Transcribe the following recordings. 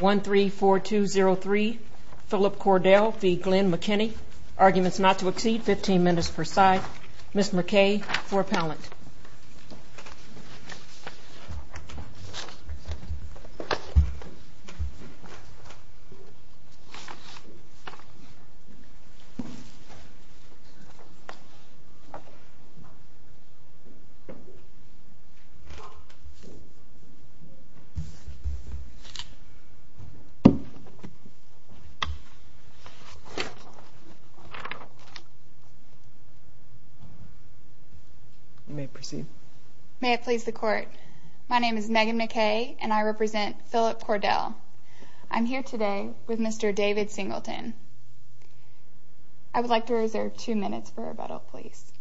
134203 Philip Cordell v. Glenn McKinney Arguments not to exceed 15 minutes per side Ms. McKay for appellant May it please the court, my name is Megan McKay and I represent Philip Cordell. I'm here today with Mr. David Singleton. I would like to reserve two minutes for rebuttal please.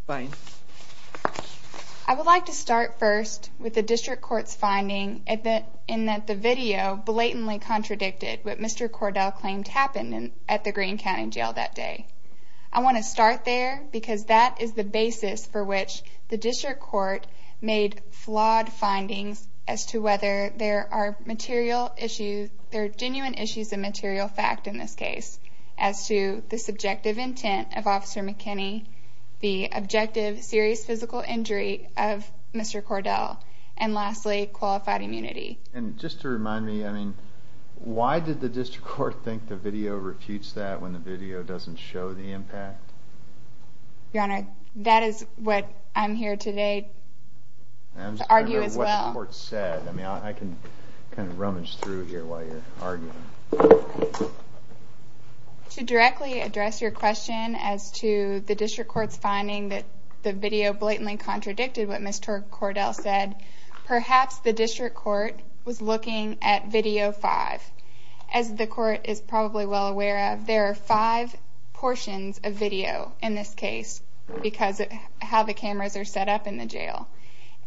I would like to start first with the District Court's finding in that the video blatantly contradicted what Mr. Cordell claimed happened at the Greene County Jail that day. I want to start there because that is the basis for which the District Court made flawed findings as to whether there are genuine issues of material fact in this case. As to the subjective intent of Officer McKinney, the objective serious physical injury of Mr. Cordell, and lastly qualified immunity. And just to remind me, I mean, why did the District Court think the video refutes that when the video doesn't show the impact? Your Honor, that is what I'm here today to argue as well. I'm just wondering what the court said. I mean, I can kind of rummage through here while you're arguing. To directly address your question as to the District Court's finding that the video blatantly contradicted what Mr. Cordell said, perhaps the District Court was looking at Video 5. As the court is probably well aware of, there are five portions of video in this case because of how the cameras are set up in the jail.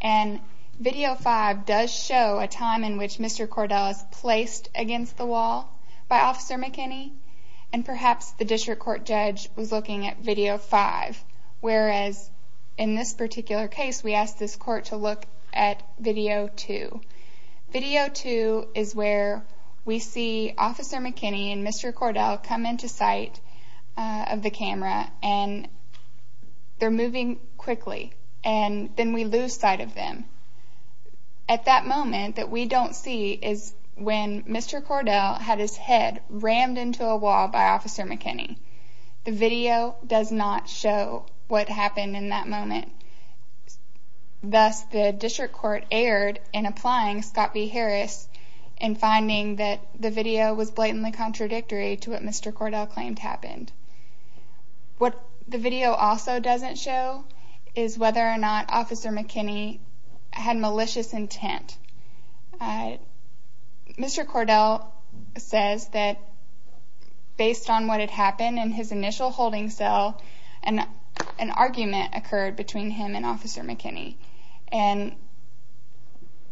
And Video 5 does show a time in which Mr. Cordell is placed against the wall by Officer McKinney, and perhaps the District Court judge was looking at Video 5. Whereas in this particular case, we asked this court to look at Video 2. Video 2 is where we see Officer McKinney and Mr. Cordell come into sight of the camera, and they're moving quickly. And then we lose sight of them. At that moment that we don't see is when Mr. Cordell had his head rammed into a wall by Officer McKinney. The video does not show what happened in that moment. Thus, the District Court erred in applying Scott B. Harris in finding that the video was blatantly contradictory to what Mr. Cordell claimed happened. What the video also doesn't show is whether or not Officer McKinney had malicious intent. Mr. Cordell says that based on what had happened in his initial holding cell, an argument occurred between him and Officer McKinney. And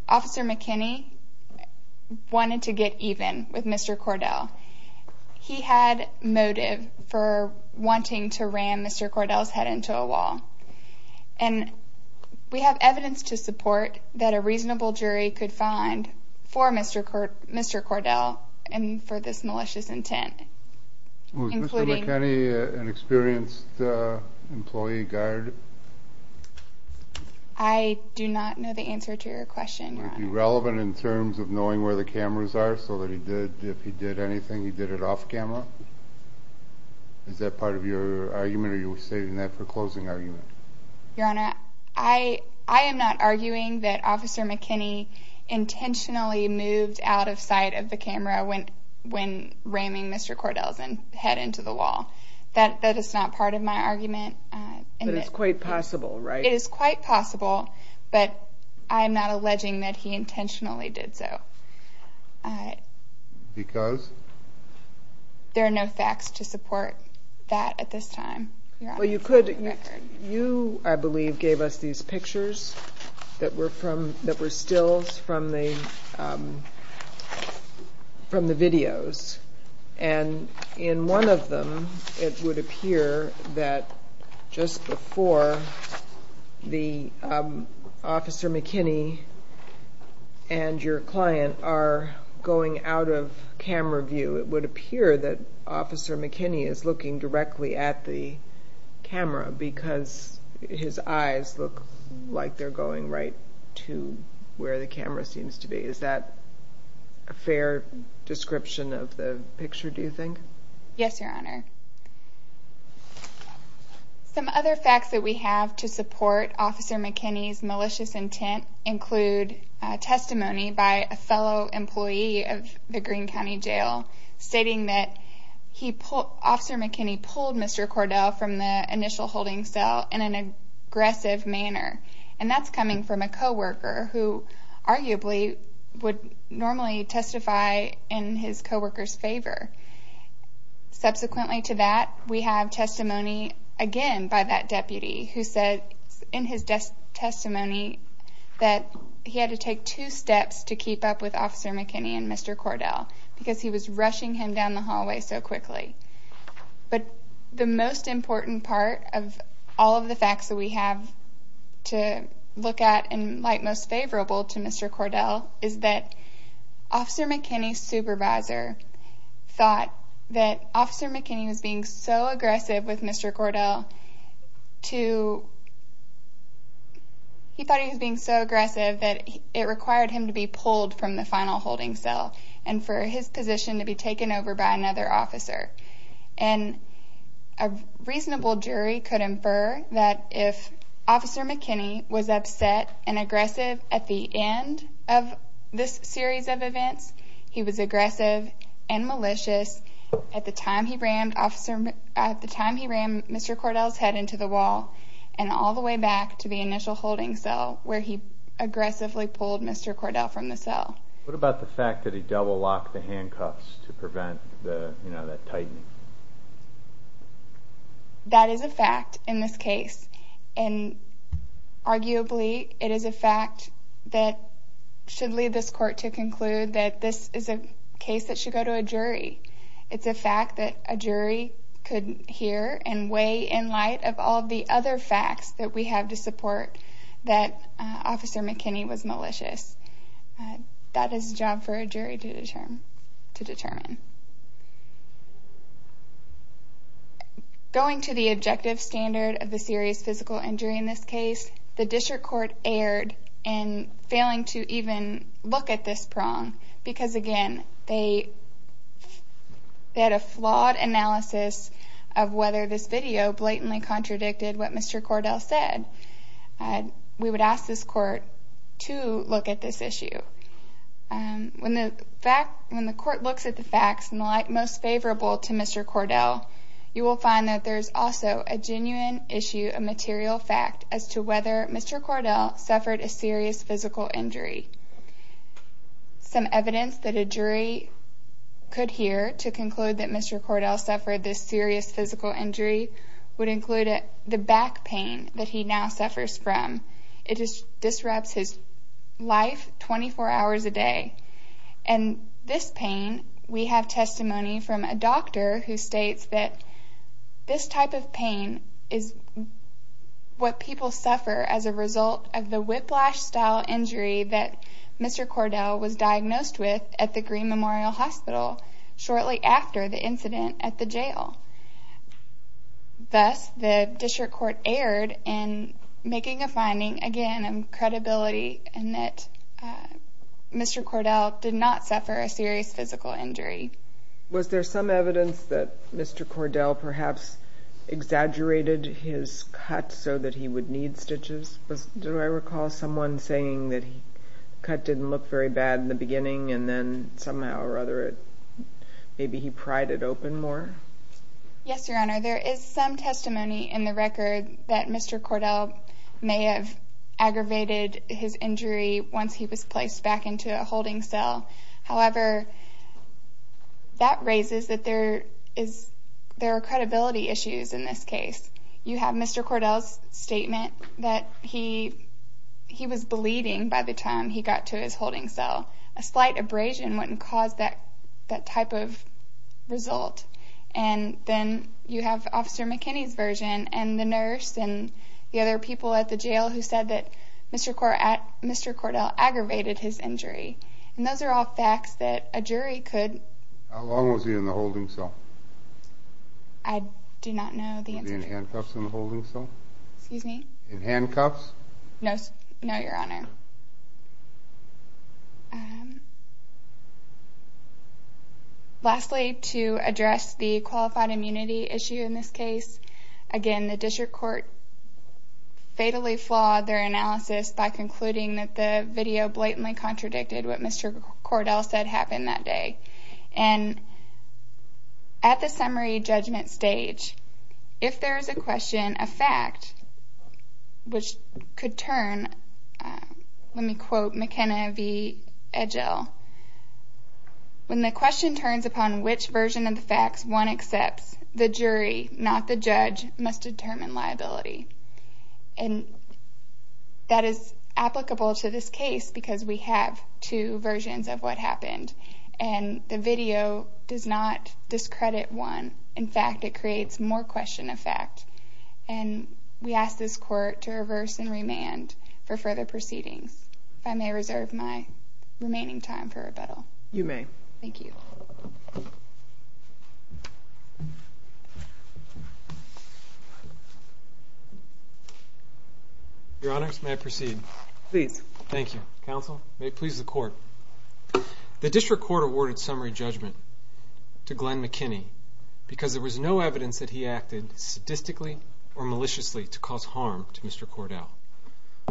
Officer McKinney wanted to get even with Mr. Cordell. He had motive for wanting to ram Mr. Cordell's head into a wall. And we have evidence to support that a reasonable jury could find for Mr. Cordell and for this malicious intent. Was Mr. McKinney an experienced employee guard? I do not know the answer to your question, Your Honor. Was he relevant in terms of knowing where the cameras are so that if he did anything he did it off camera? Is that part of your argument or are you stating that for closing argument? Your Honor, I am not arguing that Officer McKinney intentionally moved out of sight of the camera when ramming Mr. Cordell's head into the wall. That is not part of my argument. But it's quite possible, right? It is quite possible, but I am not alleging that he intentionally did so. Because? There are no facts to support that at this time, Your Honor. You, I believe, gave us these pictures that were stills from the videos. And in one of them, it would appear that just before Officer McKinney and your client are going out of camera view, it would appear that Officer McKinney is looking directly at the camera because his eyes look like they're going right to where the camera seems to be. Is that a fair description of the picture, do you think? Yes, Your Honor. Some other facts that we have to support Officer McKinney's malicious intent include testimony by a fellow employee of the Greene County Jail, stating that Officer McKinney pulled Mr. Cordell from the initial holding cell in an aggressive manner. And that's coming from a co-worker who arguably would normally testify in his co-worker's favor. Subsequently to that, we have testimony, again, by that deputy, who said in his testimony that he had to take two steps to keep up with Officer McKinney and Mr. Cordell because he was rushing him down the hallway so quickly. But the most important part of all of the facts that we have to look at and like most favorable to Mr. Cordell is that Officer McKinney's supervisor thought that Officer McKinney was being so aggressive with Mr. Cordell to, he thought he was being so aggressive that it required him to be pulled from the final holding cell and for his position to be taken over by another officer. And a reasonable jury could infer that if Officer McKinney was upset and aggressive at the end of this series of events, he was aggressive and malicious at the time he ran Mr. Cordell's head into the wall and all the way back to the initial holding cell where he aggressively pulled Mr. Cordell from the cell. What about the fact that he double-locked the handcuffs to prevent that tightening? That is a fact in this case. And arguably it is a fact that should lead this court to conclude that this is a case that should go to a jury. It's a fact that a jury could hear and weigh in light of all the other facts that we have to support that Officer McKinney was malicious. That is a job for a jury to determine. Going to the objective standard of the serious physical injury in this case, the district court erred in failing to even look at this prong because again, they had a flawed analysis of whether this video blatantly contradicted what Mr. Cordell said. We would ask this court to look at this issue. When the court looks at the facts most favorable to Mr. Cordell, you will find that there is also a genuine issue, a material fact, as to whether Mr. Cordell suffered a serious physical injury. Some evidence that a jury could hear to conclude that Mr. Cordell suffered this serious physical injury would include the back pain that he now suffers from. It disrupts his life 24 hours a day. And this pain, we have testimony from a doctor who states that this type of pain is what people suffer as a result of the whiplash-style injury that Mr. Cordell was diagnosed with at the Green Memorial Hospital shortly after the incident at the jail. Thus, the district court erred in making a finding, again, of credibility in that Mr. Cordell did not suffer a serious physical injury. Was there some evidence that Mr. Cordell perhaps exaggerated his cut so that he would need stitches? Do I recall someone saying that the cut didn't look very bad in the beginning and then somehow or other maybe he pried it open more? Yes, Your Honor. There is some testimony in the record that Mr. Cordell may have aggravated his injury once he was placed back into a holding cell. However, that raises that there are credibility issues in this case. You have Mr. Cordell's statement that he was bleeding by the time he got to his holding cell. A slight abrasion wouldn't cause that type of result. And then you have Officer McKinney's version and the nurse and the other people at the jail who said that Mr. Cordell aggravated his injury. And those are all facts that a jury could... How long was he in the holding cell? I do not know the answer to that. Was he in handcuffs in the holding cell? Excuse me? In handcuffs? No, Your Honor. Okay. Lastly, to address the qualified immunity issue in this case, again the district court fatally flawed their analysis by concluding that the video blatantly contradicted what Mr. Cordell said happened that day. And at the summary judgment stage, if there is a question, a fact, which could turn... Let me quote McKenna v. Edgell. When the question turns upon which version of the facts one accepts, the jury, not the judge, must determine liability. And that is applicable to this case because we have two versions of what happened. And the video does not discredit one. In fact, it creates more question of fact. And we ask this court to reverse and remand for further proceedings. If I may reserve my remaining time for rebuttal. You may. Thank you. Your Honors, may I proceed? Please. Thank you. Mr. Counsel, may it please the court. The district court awarded summary judgment to Glenn McKinney because there was no evidence that he acted sadistically or maliciously to cause harm to Mr. Cordell.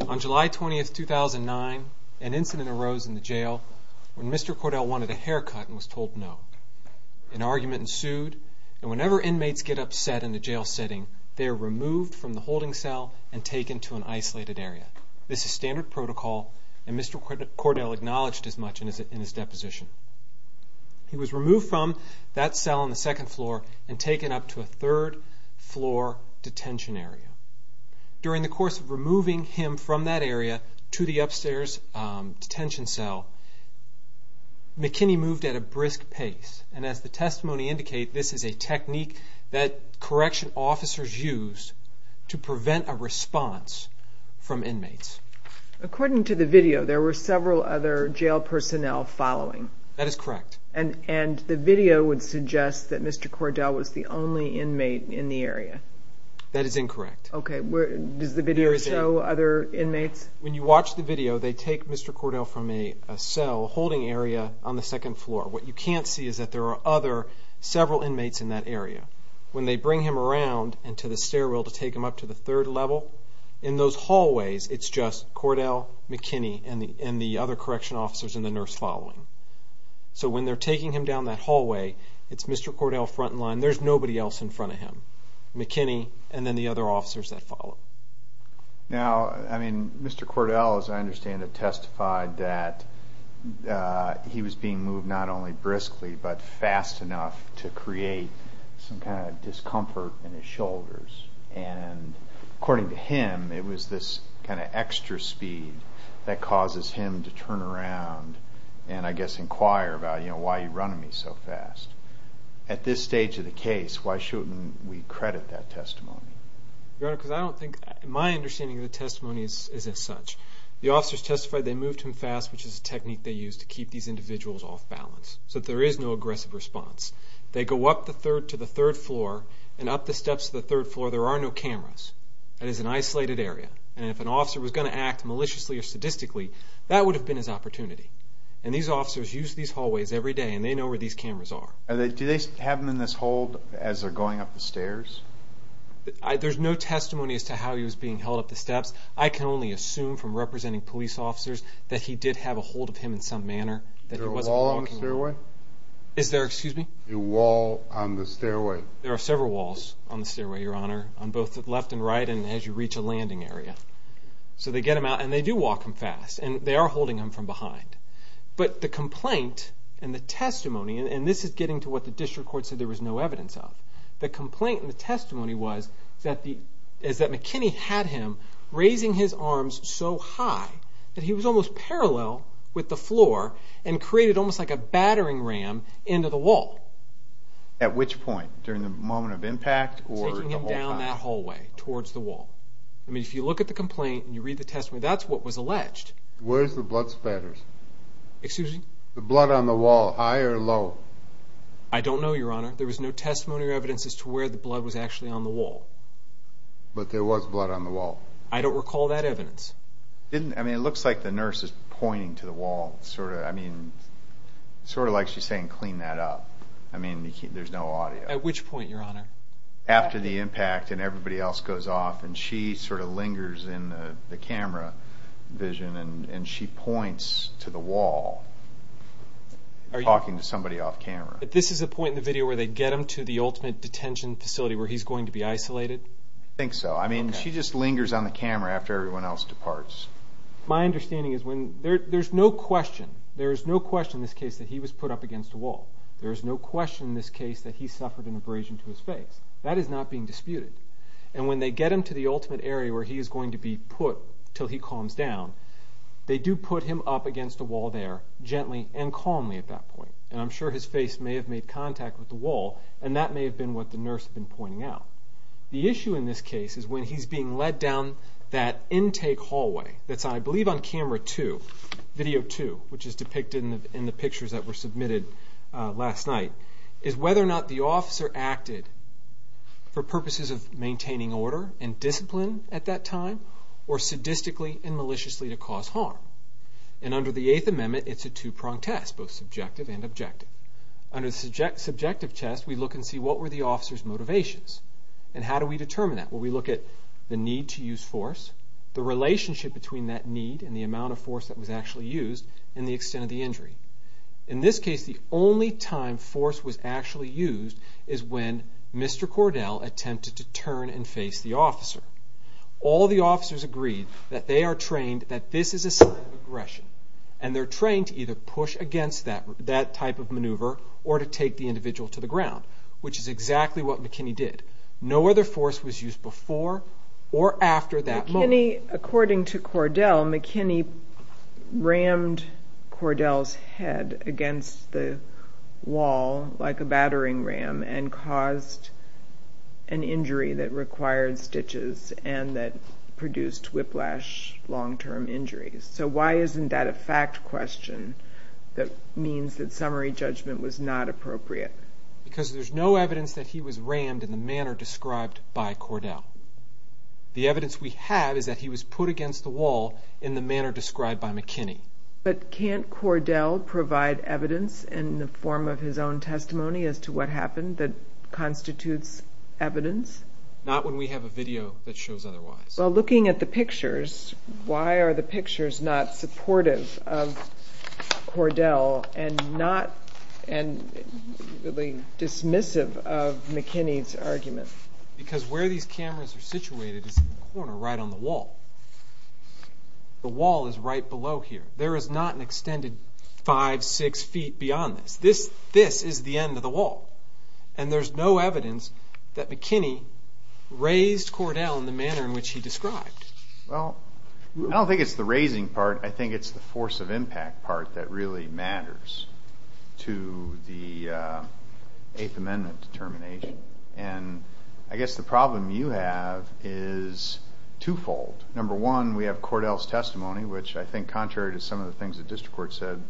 On July 20, 2009, an incident arose in the jail when Mr. Cordell wanted a haircut and was told no. An argument ensued, and whenever inmates get upset in a jail setting, they are removed from the holding cell and taken to an isolated area. This is standard protocol, and Mr. Cordell acknowledged as much in his deposition. He was removed from that cell on the second floor and taken up to a third floor detention area. During the course of removing him from that area to the upstairs detention cell, McKinney moved at a brisk pace. And as the testimony indicates, this is a technique that correction officers use to prevent a response from inmates. According to the video, there were several other jail personnel following. That is correct. And the video would suggest that Mr. Cordell was the only inmate in the area. That is incorrect. Okay, does the video show other inmates? When you watch the video, they take Mr. Cordell from a cell holding area on the second floor. When they bring him around and to the stairwell to take him up to the third level, in those hallways it's just Cordell, McKinney, and the other correction officers and the nurse following. So when they're taking him down that hallway, it's Mr. Cordell front and line. There's nobody else in front of him. McKinney and then the other officers that follow. Now, I mean, Mr. Cordell, as I understand it, testified that he was being moved not only briskly but fast enough to create some kind of discomfort in his shoulders. And according to him, it was this kind of extra speed that causes him to turn around and, I guess, inquire about, you know, why are you running me so fast? At this stage of the case, why shouldn't we credit that testimony? Your Honor, because I don't think my understanding of the testimony is as such. The officers testified they moved him fast, which is a technique they use to keep these individuals off balance so that there is no aggressive response. They go up to the third floor and up the steps to the third floor. There are no cameras. It is an isolated area, and if an officer was going to act maliciously or sadistically, that would have been his opportunity. And these officers use these hallways every day, and they know where these cameras are. Do they have them in this hold as they're going up the stairs? There's no testimony as to how he was being held up the steps. I can only assume from representing police officers that he did have a hold of him in some manner. Is there a wall on the stairway? Is there? Excuse me? A wall on the stairway. There are several walls on the stairway, Your Honor, on both the left and right and as you reach a landing area. So they get him out, and they do walk him fast, and they are holding him from behind. But the complaint and the testimony, and this is getting to what the district court said there was no evidence of, the complaint and the testimony was that McKinney had him raising his arms so high that he was almost parallel with the floor and created almost like a battering ram into the wall. At which point? During the moment of impact or the whole time? Taking him down that hallway towards the wall. I mean, if you look at the complaint and you read the testimony, that's what was alleged. Where's the blood splatters? Excuse me? The blood on the wall, high or low? I don't know, Your Honor. There was no testimony or evidence as to where the blood was actually on the wall. But there was blood on the wall? I don't recall that evidence. I mean, it looks like the nurse is pointing to the wall, sort of. I mean, sort of like she's saying, clean that up. I mean, there's no audio. At which point, Your Honor? After the impact and everybody else goes off, and she sort of lingers in the camera vision, and she points to the wall, talking to somebody off camera. But this is the point in the video where they get him to the ultimate detention facility where he's going to be isolated? I think so. I mean, she just lingers on the camera after everyone else departs. My understanding is there's no question, there's no question in this case that he was put up against a wall. There's no question in this case that he suffered an abrasion to his face. That is not being disputed. And when they get him to the ultimate area where he is going to be put until he calms down, they do put him up against a wall there, gently and calmly at that point. And I'm sure his face may have made contact with the wall, and that may have been what the nurse had been pointing out. The issue in this case is when he's being led down that intake hallway, that's I believe on camera 2, video 2, which is depicted in the pictures that were submitted last night, is whether or not the officer acted for purposes of maintaining order and discipline at that time or sadistically and maliciously to cause harm. And under the Eighth Amendment, it's a two-pronged test, both subjective and objective. Under the subjective test, we look and see what were the officer's motivations, and how do we determine that? Well, we look at the need to use force, the relationship between that need and the amount of force that was actually used, and the extent of the injury. In this case, the only time force was actually used is when Mr. Cordell attempted to turn and face the officer. All the officers agreed that they are trained that this is a sign of aggression, and they're trained to either push against that type of maneuver or to take the individual to the ground, which is exactly what McKinney did. No other force was used before or after that moment. McKinney, according to Cordell, McKinney rammed Cordell's head against the wall like a battering ram and caused an injury that required stitches and that produced whiplash, long-term injuries. So why isn't that a fact question that means that summary judgment was not appropriate? Because there's no evidence that he was rammed in the manner described by Cordell. The evidence we have is that he was put against the wall in the manner described by McKinney. But can't Cordell provide evidence in the form of his own testimony as to what happened that constitutes evidence? Not when we have a video that shows otherwise. Well, looking at the pictures, why are the pictures not supportive of Cordell and not really dismissive of McKinney's argument? Because where these cameras are situated is in the corner right on the wall. The wall is right below here. There is not an extended five, six feet beyond this. This is the end of the wall. And there's no evidence that McKinney raised Cordell in the manner in which he described. Well, I don't think it's the raising part. I think it's the force of impact part that really matters to the Eighth Amendment determination. And I guess the problem you have is twofold. Number one, we have Cordell's testimony, which I think contrary to some of the things the District Court said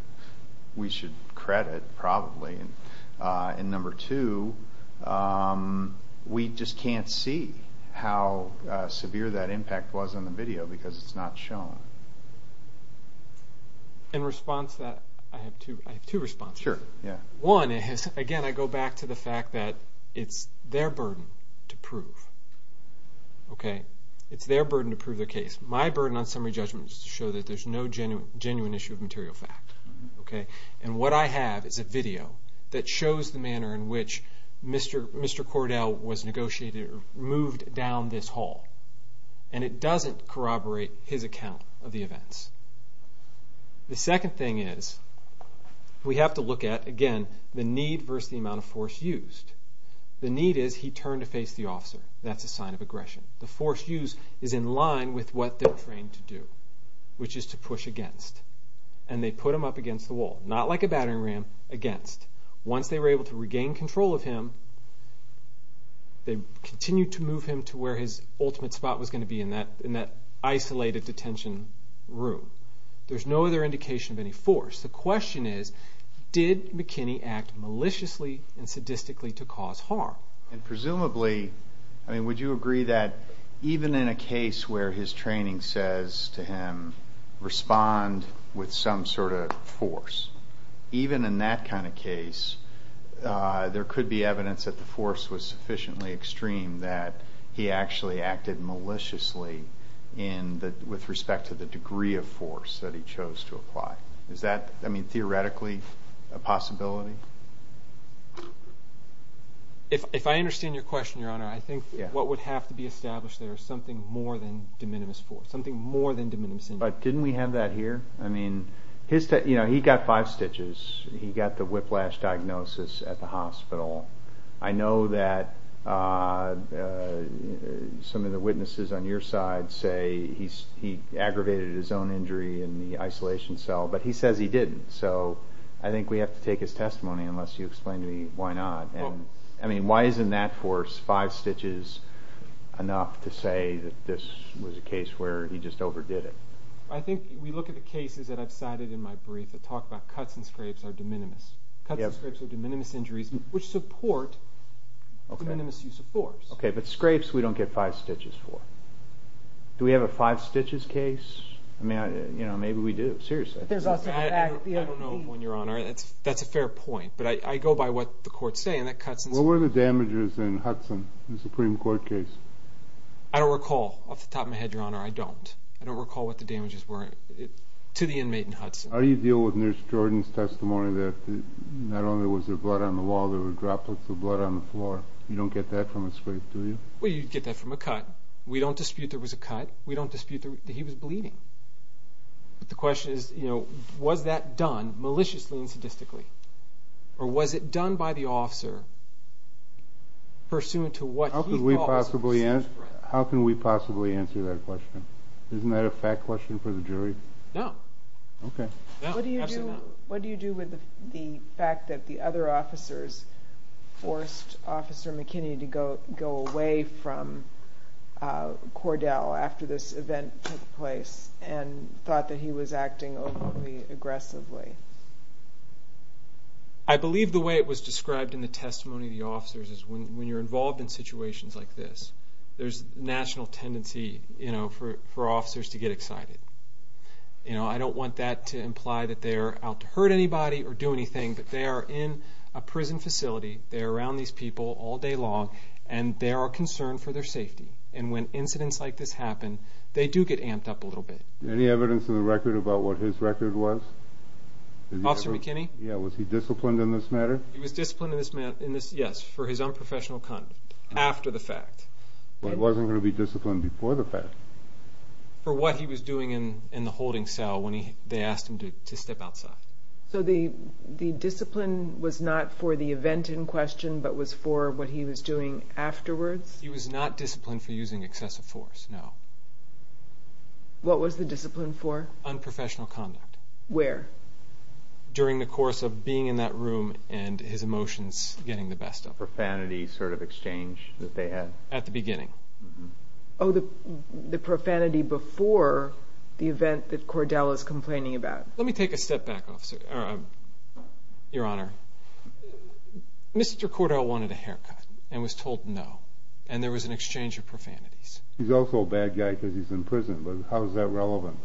we should credit probably. And number two, we just can't see how severe that impact was on the video because it's not shown. In response to that, I have two responses. Sure, yeah. One is, again, I go back to the fact that it's their burden to prove. It's their burden to prove the case. My burden on summary judgment is to show that there's no genuine issue of material fact. And what I have is a video that shows the manner in which Mr. Cordell was negotiated or moved down this hall. And it doesn't corroborate his account of the events. The second thing is we have to look at, again, the need versus the amount of force used. The need is he turned to face the officer. That's a sign of aggression. The force used is in line with what they're trained to do, which is to push against. And they put him up against the wall. Not like a battering ram, against. Once they were able to regain control of him, they continued to move him to where his ultimate spot was going to be in that isolated detention room. There's no other indication of any force. The question is, did McKinney act maliciously and sadistically to cause harm? Presumably, would you agree that even in a case where his training says to him, respond with some sort of force, even in that kind of case, there could be evidence that the force was sufficiently extreme that he actually acted maliciously with respect to the degree of force that he chose to apply? Is that, I mean, theoretically a possibility? If I understand your question, Your Honor, I think what would have to be established there is something more than de minimis force, something more than de minimis injury. But didn't we have that here? I mean, he got five stitches. He got the whiplash diagnosis at the hospital. I know that some of the witnesses on your side say he aggravated his own injury in the isolation cell, but he says he didn't. So I think we have to take his testimony unless you explain to me why not. I mean, why isn't that force, five stitches, enough to say that this was a case where he just overdid it? I think we look at the cases that I've cited in my brief that talk about cuts and scrapes are de minimis. Cuts and scrapes are de minimis injuries which support de minimis use of force. Okay, but scrapes we don't get five stitches for. Do we have a five-stitches case? I mean, maybe we do. Seriously. I don't know, Your Honor. That's a fair point. But I go by what the courts say, and that cuts and scrapes. What were the damages in Hudson, the Supreme Court case? I don't recall off the top of my head, Your Honor. I don't. I don't recall what the damages were to the inmate in Hudson. How do you deal with Nurse Jordan's testimony that not only was there blood on the wall, there were droplets of blood on the floor? You don't get that from a scrape, do you? Well, you'd get that from a cut. We don't dispute there was a cut. We don't dispute that he was bleeding. But the question is, was that done maliciously and sadistically? Or was it done by the officer pursuant to what he thought was a mistake? How can we possibly answer that question? Isn't that a fact question for the jury? No. Okay. What do you do with the fact that the other officers forced Officer McKinney to go away from Cordell after this event took place and thought that he was acting overly aggressively? I believe the way it was described in the testimony of the officers is when you're involved in situations like this, there's a national tendency for officers to get excited. I don't want that to imply that they're out to hurt anybody or do anything, but they are in a prison facility, they're around these people all day long, and they are concerned for their safety. And when incidents like this happen, they do get amped up a little bit. Any evidence in the record about what his record was? Officer McKinney? Yeah. Was he disciplined in this matter? He was disciplined in this, yes, for his unprofessional conduct after the fact. But he wasn't going to be disciplined before the fact. For what he was doing in the holding cell when they asked him to step outside. So the discipline was not for the event in question, but was for what he was doing afterwards? He was not disciplined for using excessive force, no. What was the discipline for? Unprofessional conduct. Where? During the course of being in that room and his emotions getting the best of him. Profanity sort of exchange that they had? At the beginning. Oh, the profanity before the event that Cordell is complaining about. Let me take a step back, Your Honor. Mr. Cordell wanted a haircut and was told no, and there was an exchange of profanities. He's also a bad guy because he's in prison, but how is that relevant?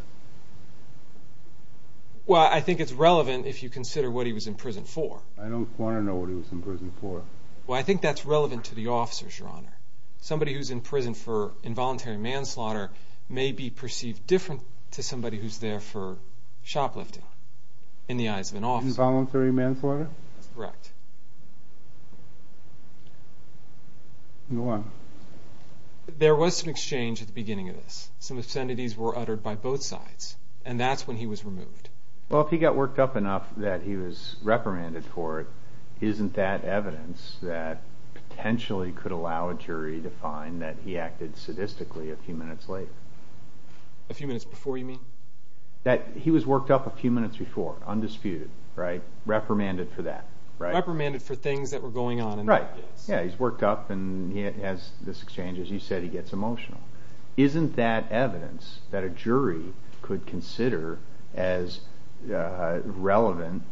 Well, I think it's relevant if you consider what he was in prison for. I don't want to know what he was in prison for. Well, I think that's relevant to the officers, Your Honor. Somebody who's in prison for involuntary manslaughter may be perceived different to somebody who's there for shoplifting in the eyes of an officer. Involuntary manslaughter? That's correct. Go on. There was some exchange at the beginning of this. Some obscenities were uttered by both sides, and that's when he was removed. Well, if he got worked up enough that he was reprimanded for it, isn't that evidence that potentially could allow a jury to find that he acted sadistically a few minutes later? A few minutes before, you mean? He was worked up a few minutes before, undisputed, right? Reprimanded for that. Reprimanded for things that were going on. Right. Yeah, he's worked up, and he has this exchange. As you said, he gets emotional. Isn't that evidence that a jury could consider as relevant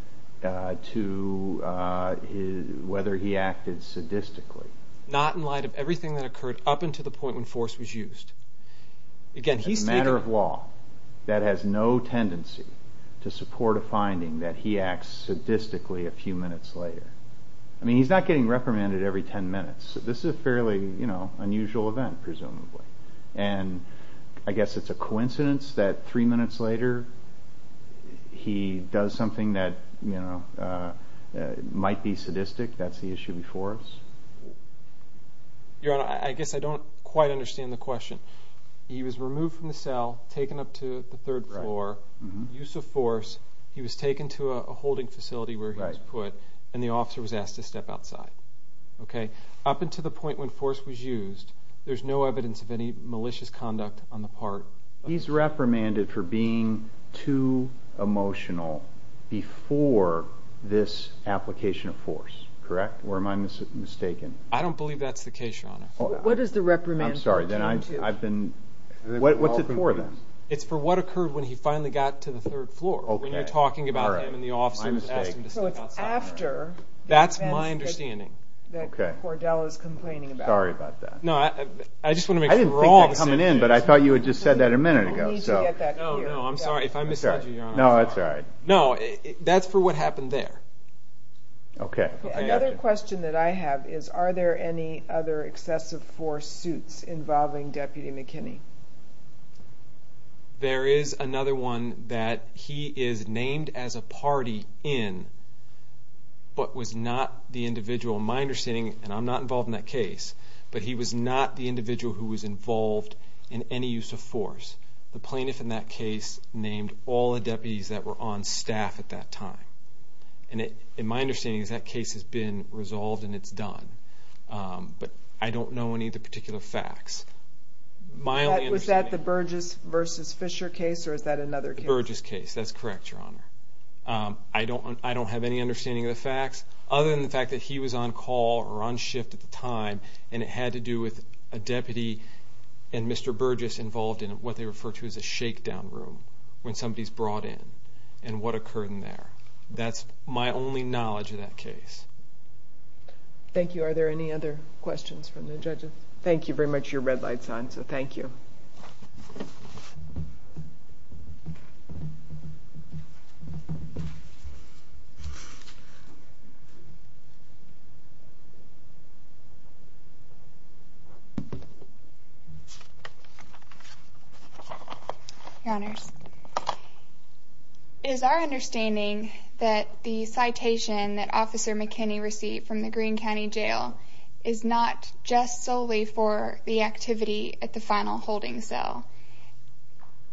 to whether he acted sadistically? Not in light of everything that occurred up until the point when force was used. Again, he's taken... A matter of law that has no tendency to support a finding that he acts sadistically a few minutes later. I mean, he's not getting reprimanded every 10 minutes. This is a fairly unusual event, presumably. And I guess it's a coincidence that three minutes later he does something that might be sadistic. That's the issue before us. Your Honor, I guess I don't quite understand the question. He was removed from the cell, taken up to the third floor, use of force. He was taken to a holding facility where he was put, and the officer was asked to step outside. Up until the point when force was used, there's no evidence of any malicious conduct on the part of the jury. He's reprimanded for being too emotional before this application of force, correct? Or am I mistaken? I don't believe that's the case, Your Honor. What is the reprimand for? I'm sorry, then I've been... What's it for, then? It's for what occurred when he finally got to the third floor. When you're talking about him and the officer was asked to step outside. That's my understanding. That Cordell is complaining about. Sorry about that. No, I just want to make sure we're all on the same page. I didn't think that was coming in, but I thought you had just said that a minute ago. We need to get that clear. No, no, I'm sorry. If I misled you, Your Honor, I'm sorry. No, that's all right. No, that's for what happened there. Okay. Another question that I have is, are there any other excessive force suits involving Deputy McKinney? There is another one that he is named as a party in, but was not the individual. My understanding, and I'm not involved in that case, but he was not the individual who was involved in any use of force. The plaintiff in that case named all the deputies that were on staff at that time. And my understanding is that case has been resolved and it's done. But I don't know any of the particular facts. Was that the Burgess v. Fisher case, or is that another case? The Burgess case. That's correct, Your Honor. I don't have any understanding of the facts, other than the fact that he was on call or on shift at the time, and it had to do with a deputy and Mr. Burgess involved in what they refer to as a shakedown room when somebody is brought in and what occurred in there. That's my only knowledge of that case. Thank you. Are there any other questions from the judges? Thank you very much. Your red light is on, so thank you. Your Honors, it is our understanding that the citation that Officer McKinney received from the Greene County Jail is not just solely for the activity at the final holding cell.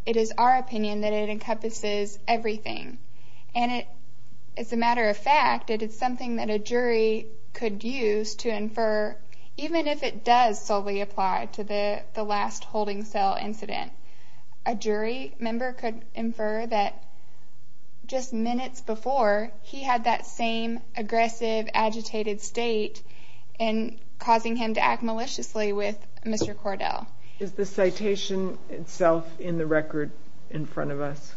It is our opinion that it encompasses everything. And as a matter of fact, it is something that a jury could use to infer, even if it does solely apply to the last holding cell incident, a jury member could infer that just minutes before, he had that same aggressive, agitated state and causing him to act maliciously with Mr. Cordell. Is the citation itself in the record in front of us?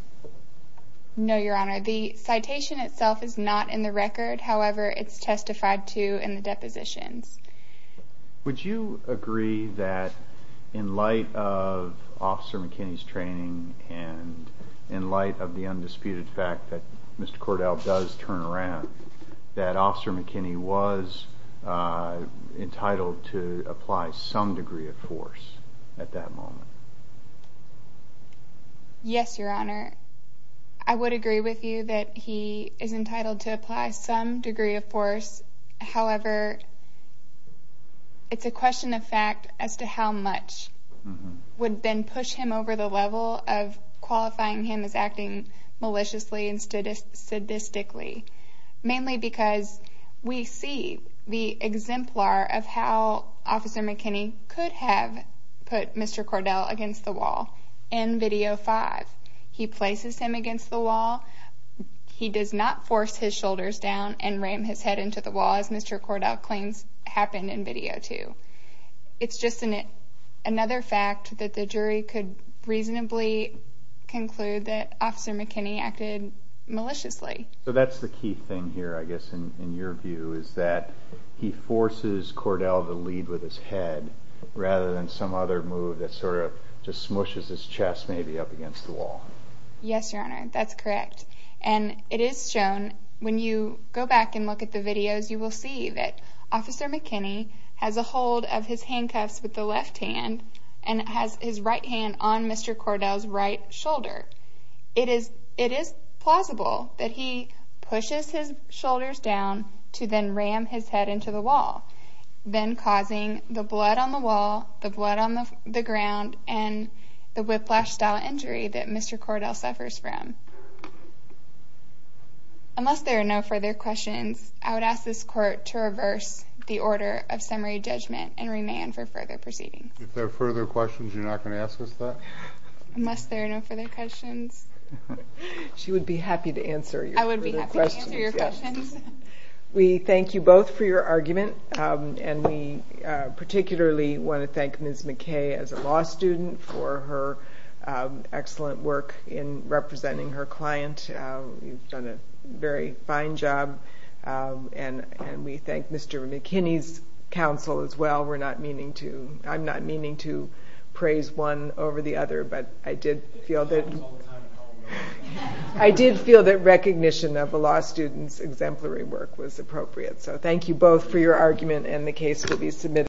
No, Your Honor. The citation itself is not in the record. However, it's testified to in the depositions. Would you agree that in light of Officer McKinney's training and in light of the undisputed fact that Mr. Cordell does turn around, that Officer McKinney was entitled to apply some degree of force at that moment? Yes, Your Honor. I would agree with you that he is entitled to apply some degree of force. However, it's a question of fact as to how much would then push him over the level of qualifying him as acting maliciously and sadistically, mainly because we see the exemplar of how Officer McKinney could have put Mr. Cordell against the wall. In Video 5, he places him against the wall. He does not force his shoulders down and ram his head into the wall as Mr. Cordell claims happened in Video 2. It's just another fact that the jury could reasonably conclude that Officer McKinney acted maliciously. So that's the key thing here, I guess, in your view is that he forces Cordell to lead with his head rather than some other move that sort of just smushes his chest maybe up against the wall. Yes, Your Honor. That's correct. And it is shown when you go back and look at the videos, you will see that Officer McKinney has a hold of his handcuffs with the left hand and has his right hand on Mr. Cordell's right shoulder. It is plausible that he pushes his shoulders down to then ram his head into the wall, then causing the blood on the wall, the blood on the ground, and the whiplash-style injury that Mr. Cordell suffers from. Unless there are no further questions, I would ask this Court to reverse the order of summary judgment and remain for further proceedings. If there are further questions, you're not going to ask us that? Unless there are no further questions. She would be happy to answer your further questions. I would be happy to answer your questions. We thank you both for your argument. And we particularly want to thank Ms. McKay as a law student for her excellent work in representing her client. You've done a very fine job. And we thank Mr. McKinney's counsel as well. I'm not meaning to praise one over the other, but I did feel that recognition of a law student's exemplary work was appropriate. So thank you both for your argument, and the case will be submitted.